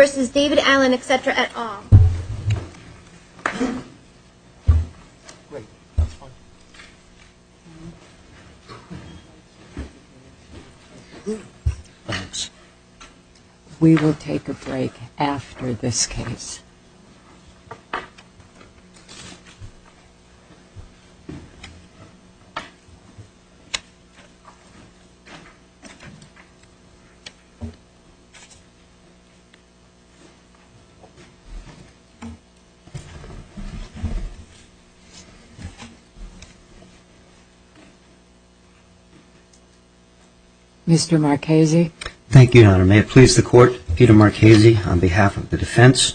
v. David Allen, etc., et al. We will take a break after this case. Mr. Marchese. May it please the Court, Peter Marchese on behalf of the defense.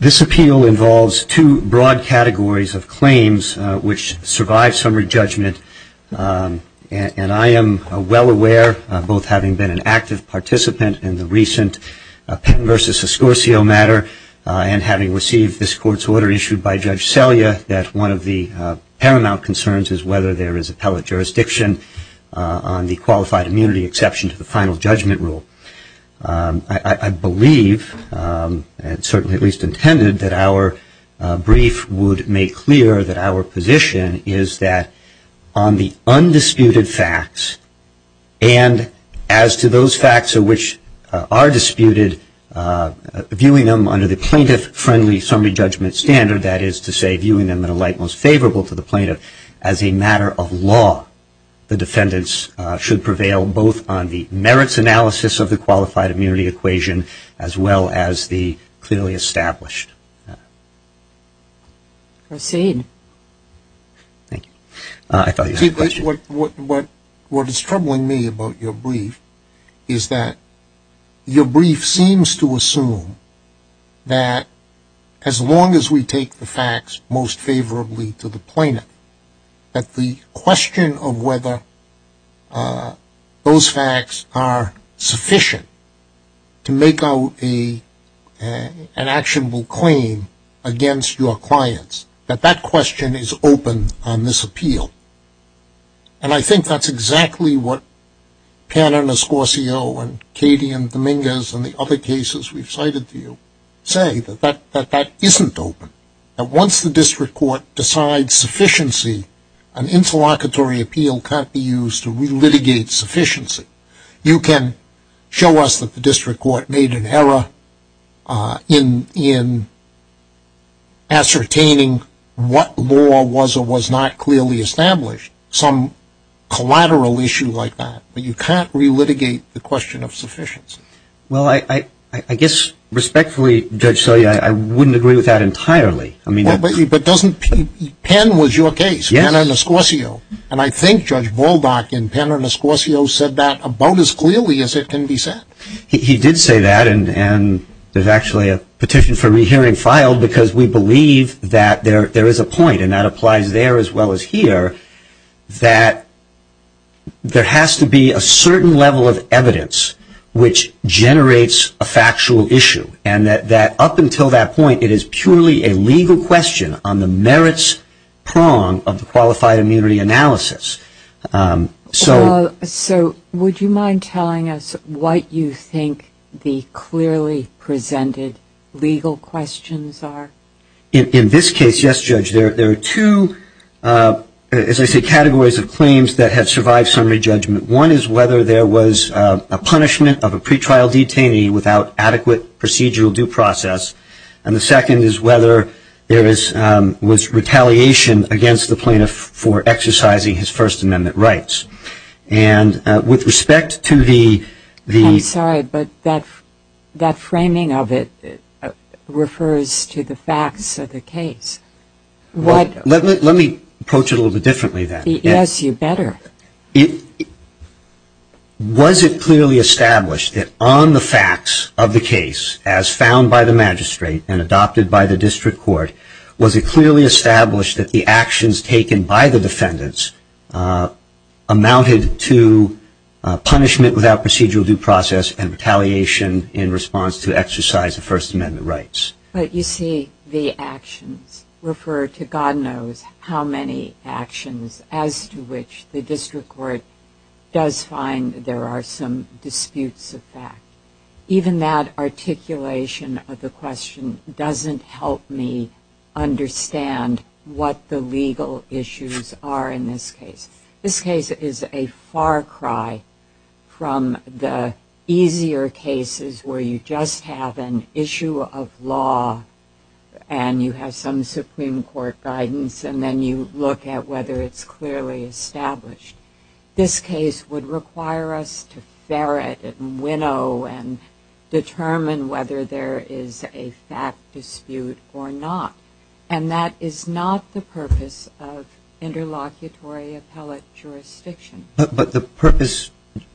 This appeal involves two broad categories of claims which survive summary judgment, and I am well aware, both having been an active participant in the recent Pitten v. Escorcio matter and having received this Court's order issued by Judge Selya, that one of the paramount concerns is whether there is appellate jurisdiction on the qualified immunity exception to the final judgment rule. I believe, and certainly at least intended, that our brief would make clear that our position is that on the undisputed facts, and as to those facts of which are disputed, viewing them under the plaintiff-friendly summary judgment standard, that is to say, viewing them in a light most favorable to the plaintiff, as a matter of law, the defendants should prevail both on the merits analysis of the qualified immunity equation, as well as the clearly established matter. Proceed. Thank you. I thought you had a question. What is troubling me about your brief is that your brief seems to assume that as long as we take the facts most favorably to the plaintiff, that the question of whether those facts are sufficient to make out an actionable claim against your clients, that that question is open on this appeal. And I think that's exactly what Pan and Escorcio and Katie and Dominguez and the other cases we've cited to you say, that that isn't open. That once the district court decides sufficiency, an interlocutory appeal can't be used to relitigate sufficiency. You can show us that the district court made an error in ascertaining what law was or was not clearly established, some collateral issue like that, but you can't relitigate the question of sufficiency. Well, I guess respectfully, Judge Selye, I wouldn't agree with that entirely. But Pan was your case, Pan and Escorcio, and I think Judge Baldock in Pan and Escorcio said that about as clearly as it can be said. He did say that, and there's actually a petition for re-hearing filed because we believe that there is a point, and that applies there as well as here, that there has to be a certain level of evidence which generates a factual issue, and that up until that point, it is purely a legal question on the merits prong of the qualified immunity analysis. So would you mind telling us what you think the clearly presented legal questions are? In this case, yes, Judge, there are two, as I say, categories of claims that have survived summary judgment. One is whether there was a punishment of a pretrial detainee without adequate procedural due process. And the second is whether there was retaliation against the plaintiff for exercising his First Amendment rights. And with respect to the ‑‑ I'm sorry, but that framing of it refers to the facts of the case. Let me approach it a little bit differently then. Yes, you better. Was it clearly established that on the facts of the case, as found by the magistrate and adopted by the district court, was it clearly established that the actions taken by the defendants amounted to punishment without procedural due process and retaliation in response to exercise of First Amendment rights? You see, the actions refer to God knows how many actions as to which the district court does find there are some disputes of fact. Even that articulation of the question doesn't help me understand what the legal issues are in this case. This case is a far cry from the easier cases where you just have an issue of law and you have some Supreme Court guidance and then you look at whether it's clearly established. This case would require us to ferret and winnow and determine whether there is a fact dispute or not. And that is not the purpose of interlocutory appellate jurisdiction. But the purpose,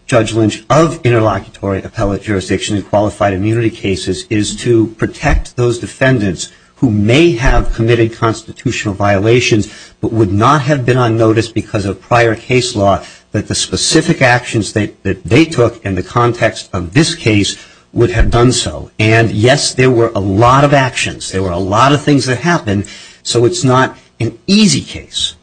Judge Lynch, of interlocutory appellate jurisdiction in qualified immunity cases is to protect those defendants who may have committed constitutional violations but would not have been on notice because of prior case law that the specific actions that they took in the context of this case would have done so. And yes, there were a lot of actions. There were a lot of things that happened. So it's not an easy case.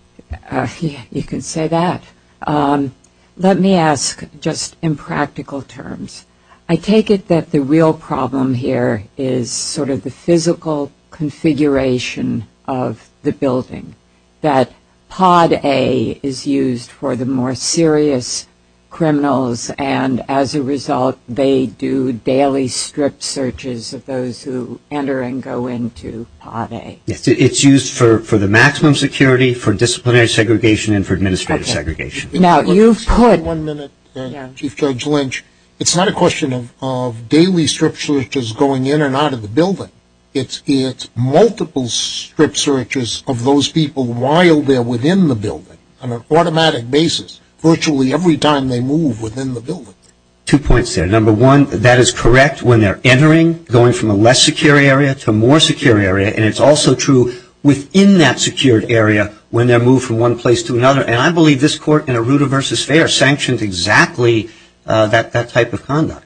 You can say that. Let me ask just in practical terms. I take it that the real problem here is sort of the physical configuration of the building. That pod A is used for the more serious criminals and as a result they do daily strip searches of those who enter and go into pod A. Yes, it's used for the maximum security, for disciplinary segregation and for administrative segregation. Now, you've put One minute, Chief Judge Lynch. It's not a question of daily strip searches going in and out of the building. It's multiple strip searches of those people while they're within the building on an automatic basis virtually every time they move within the building. Two points there. Number one, that is correct when they're entering, going from a less secure area to a more secure area. And it's also true within that secured area when they're moved from one place to another. And I believe this court in Arruda v. Fair sanctioned exactly that type of conduct.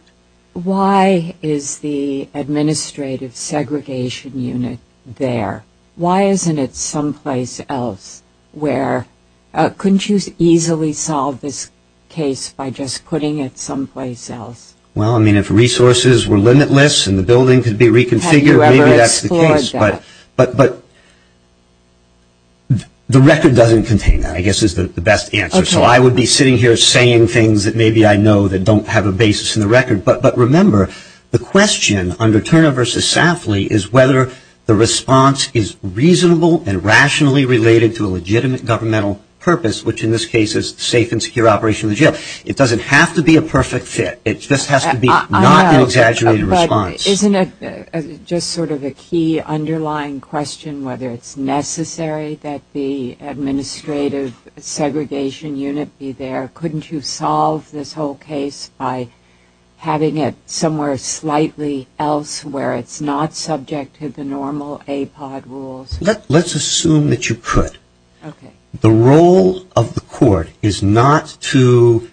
Why is the administrative segregation unit there? Why isn't it someplace else where couldn't you easily solve this case by just putting it someplace else? Well, I mean, if resources were limitless and the building could be reconfigured, maybe that's the case. Have you ever explored that? But the record doesn't contain that, I guess, is the best answer. So I would be sitting here saying things that maybe I know that don't have a basis in the record. But remember, the question under Turner v. Safley is whether the response is reasonable and rationally related to a legitimate governmental purpose, which in this case is safe and secure operation of the jail. It doesn't have to be a perfect fit. It just has to be not an exaggerated response. But isn't it just sort of a key underlying question whether it's necessary that the administrative segregation unit be there? Couldn't you solve this whole case by having it somewhere slightly else where it's not subject to the normal APOD rules? Let's assume that you could. The role of the court is not to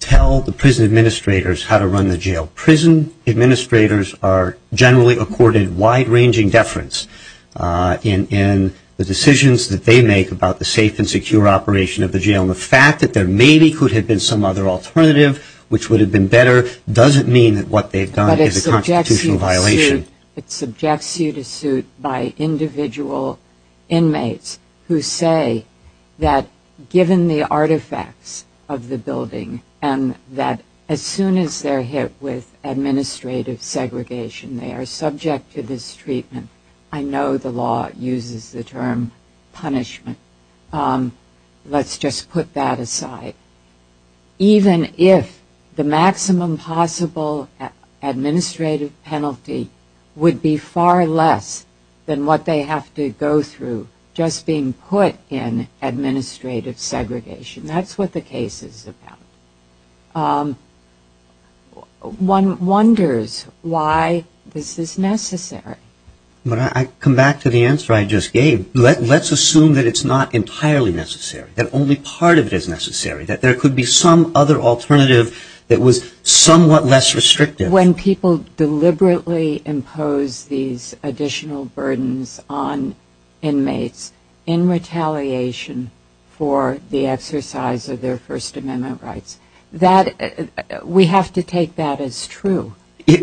tell the prison administrators how to run the jail. Prison administrators are generally accorded wide-ranging deference in the decisions that they make about the safe and secure operation of the jail. And the fact that there maybe could have been some other alternative which would have been better doesn't mean that what they've done is a constitutional violation. It subjects you to suit by individual inmates who say that given the artifacts of the building and that as soon as they're hit with administrative segregation, they are subject to this treatment. I know the law uses the term punishment. Let's just put that aside. Even if the maximum possible administrative penalty would be far less than what they have to go through just being put in administrative segregation. That's what the case is about. One wonders why this is necessary. When I come back to the answer I just gave, let's assume that it's not entirely necessary, that only part of it is necessary, that there could be some other alternative that was somewhat less restrictive. When people deliberately impose these additional burdens on inmates in retaliation for the exercise of their First Amendment rights, we have to take that as true.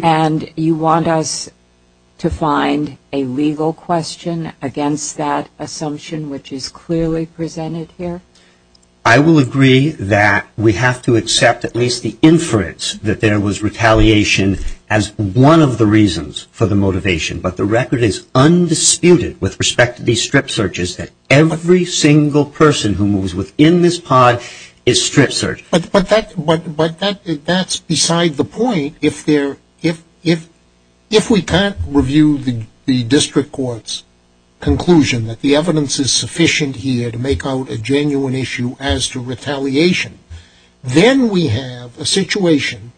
And you want us to find a legal question against that assumption which is clearly presented here. I will agree that we have to accept at least the inference that there was retaliation as one of the reasons for the motivation. But the record is undisputed with respect to these strip searches that every single person who moves within this pod is strip searched. But that's beside the point. If we can't review the district court's conclusion that the evidence is sufficient here to make out a genuine issue as to retaliation, then we have a situation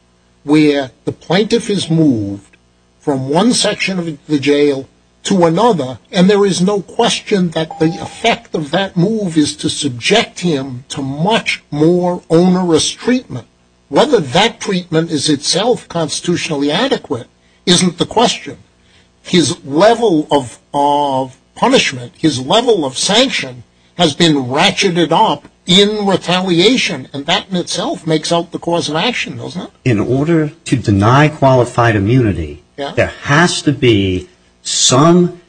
where the plaintiff is moved from one section of the jail to another, and there is no question that the effect of that move is to subject him to much more onerous treatment. Whether that treatment is itself constitutionally adequate isn't the question. His level of punishment, his level of sanction has been ratcheted up in retaliation, and that in itself makes up the cause of action, doesn't it? In order to deny qualified immunity, there has to be some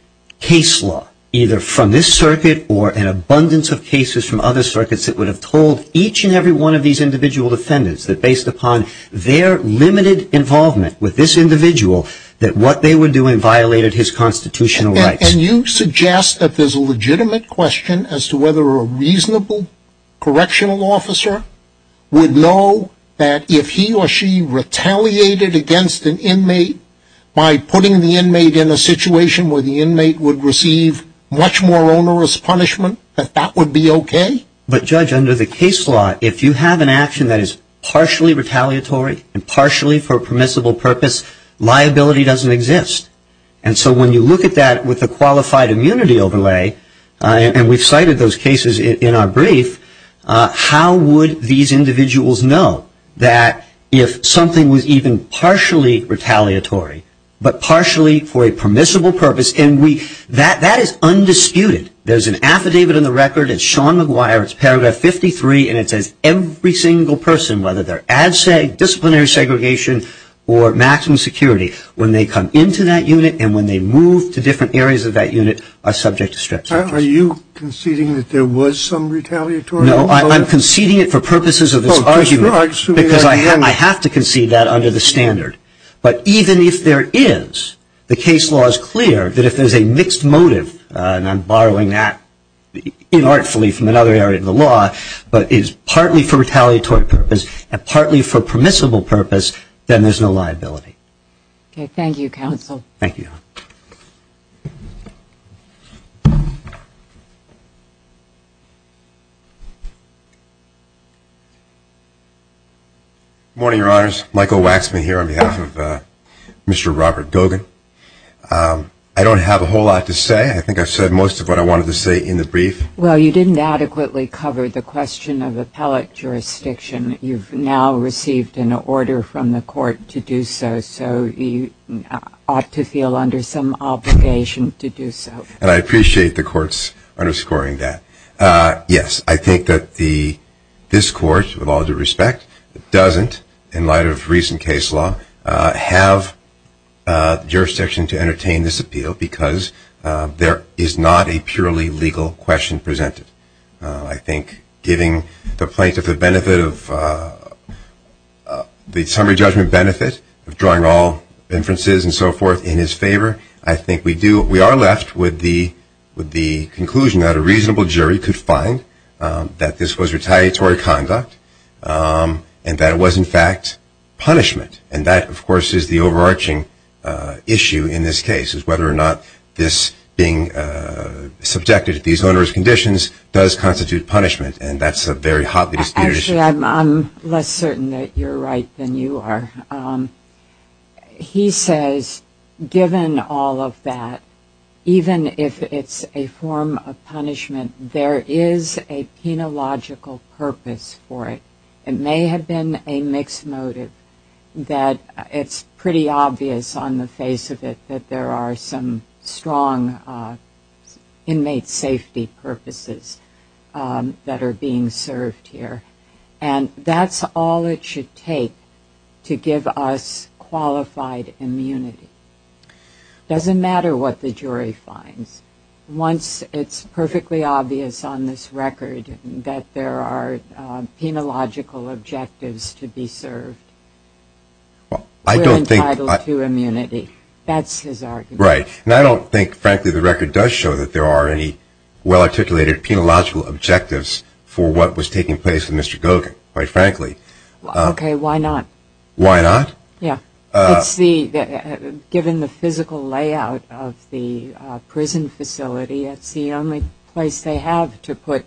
case law, either from this circuit or an abundance of cases from other circuits that would have told each and every one of these individual defendants that based upon their limited involvement with this individual that what they were doing violated his constitutional rights. And you suggest that there's a legitimate question as to whether a reasonable correctional officer would know that if he or she retaliated against an inmate by putting the inmate in a situation where the inmate would receive much more onerous punishment, that that would be okay? But Judge, under the case law, if you have an action that is partially retaliatory and liability doesn't exist, and so when you look at that with a qualified immunity overlay, and we've cited those cases in our brief, how would these individuals know that if something was even partially retaliatory, but partially for a permissible purpose, and that is undisputed. There's an affidavit in the record, it's Sean McGuire, it's paragraph 53, and it says every single person, whether they're ad sec, disciplinary segregation, or maximum security, when they come into that unit and when they move to different areas of that unit, are subject to strict sanctions. Are you conceding that there was some retaliatory motive? No, I'm conceding it for purposes of this argument, because I have to concede that under the standard. But even if there is, the case law is clear that if there's a mixed motive, and I'm borrowing that inartfully from another area of the law, but is partly for retaliatory purpose and partly for permissible purpose, then there's no liability. Thank you, counsel. Thank you. Good morning, your honors, Michael Waxman here on behalf of Mr. Robert Gogan. I don't have a whole lot to say, I think I've said most of what I wanted to say in the brief. Well, you didn't adequately cover the question of appellate jurisdiction. You've now received an order from the court to do so, so you ought to feel under some obligation to do so. And I appreciate the court's underscoring that. Yes, I think that this court, with all due respect, doesn't, in light of recent case law, have jurisdiction to entertain this appeal, because there is not a purely legal question presented. I think giving the plaintiff the benefit of the summary judgment benefit of drawing all inferences and so forth in his favor, I think we are left with the conclusion that a reasonable And that, of course, is the overarching issue in this case, is whether or not this being subjected to these onerous conditions does constitute punishment, and that's a very hotly disputed issue. Actually, I'm less certain that you're right than you are. He says, given all of that, even if it's a form of punishment, there is a penological purpose for it. It may have been a mixed motive, that it's pretty obvious on the face of it that there are some strong inmate safety purposes that are being served here. And that's all it should take to give us qualified immunity. Doesn't matter what the jury finds. Once it's perfectly obvious on this record that there are penological objectives to be served, we're entitled to immunity. That's his argument. Right. And I don't think, frankly, the record does show that there are any well-articulated penological objectives for what was taking place with Mr. Gogan, quite frankly. OK, why not? Why not? Yeah. Given the physical layout of the prison facility, that's the only place they have to put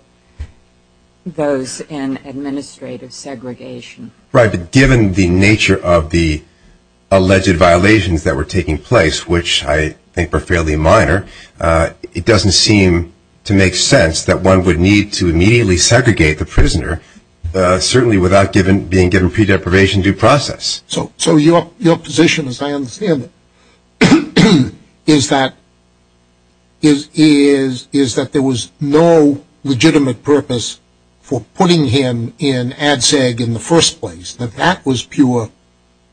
those in administrative segregation. Right, but given the nature of the alleged violations that were taking place, which I think were fairly minor, it doesn't seem to make sense that one would need to immediately segregate the prisoner, certainly without being given pre-deprivation due process. So your position, as I understand it, is that there was no legitimate purpose for putting him in ADSEG in the first place, that that was pure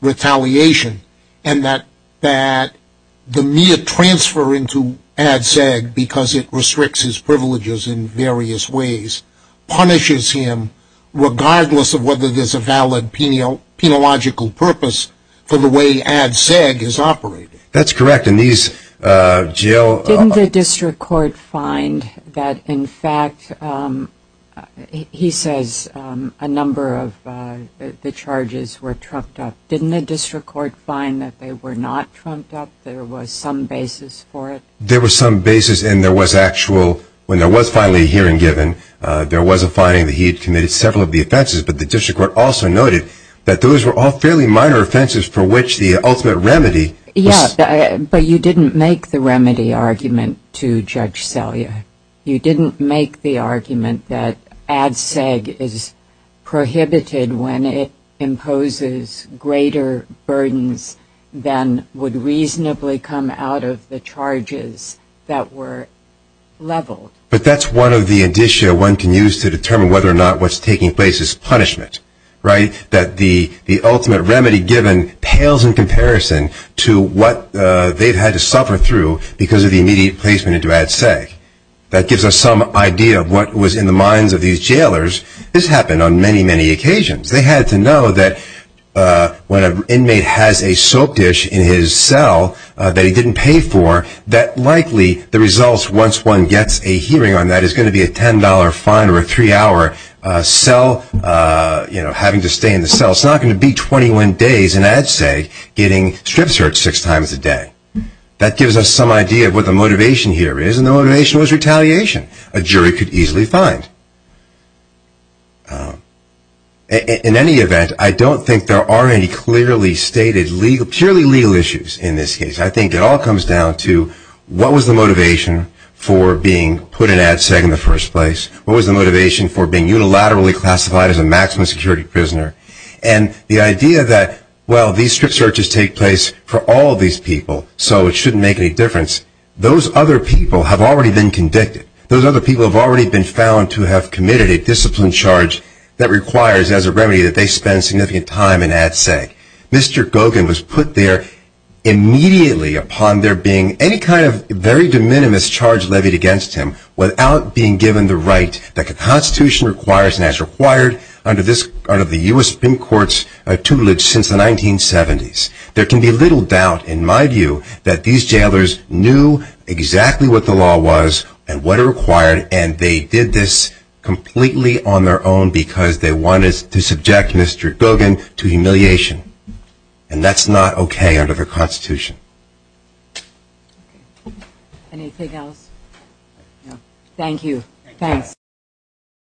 retaliation, and that the mere transfer into ADSEG, because it restricts his privileges in various ways, punishes him regardless of whether there's a valid penological purpose for the way ADSEG is operated. That's correct, and these jail- Didn't the district court find that, in fact, he says a number of the charges were trumped up, didn't the district court find that they were not trumped up, there was some basis for it? There was some basis, and there was actual, when there was finally a hearing given, there was some basis for it, and the district court also noted that those were all fairly minor offenses for which the ultimate remedy was- Yeah, but you didn't make the remedy argument to Judge Selya. You didn't make the argument that ADSEG is prohibited when it imposes greater burdens than would reasonably come out of the charges that were leveled. But that's one of the indicia one can use to determine whether or not what's taking place is punishment, right? That the ultimate remedy given pales in comparison to what they've had to suffer through because of the immediate placement into ADSEG. That gives us some idea of what was in the minds of these jailers. This happened on many, many occasions. They had to know that when an inmate has a soap dish in his cell that he didn't pay for, that likely the results, once one gets a hearing on that, is going to be a $10 fine or a three-hour cell, having to stay in the cell. It's not going to be 21 days in ADSEG getting strips hurt six times a day. That gives us some idea of what the motivation here is, and the motivation was retaliation. A jury could easily find. In any event, I don't think there are any clearly stated, purely legal issues in this case. I think it all comes down to what was the motivation for being put in ADSEG in the first place? What was the motivation for being unilaterally classified as a maximum security prisoner? And the idea that, well, these strip searches take place for all of these people, so it shouldn't make any difference. Those other people have already been convicted. Those other people have already been found to have committed a discipline charge that requires as a remedy that they spend significant time in ADSEG. Mr. Goggin was put there immediately upon there being any kind of very de minimis charge levied against him without being given the right that the Constitution requires and has required under the U.S. Supreme Court's tutelage since the 1970s. There can be little doubt, in my view, that these jailers knew exactly what the law was and what it required, and they did this completely on their own because they wanted to subject Mr. Goggin to humiliation. And that's not okay under the Constitution.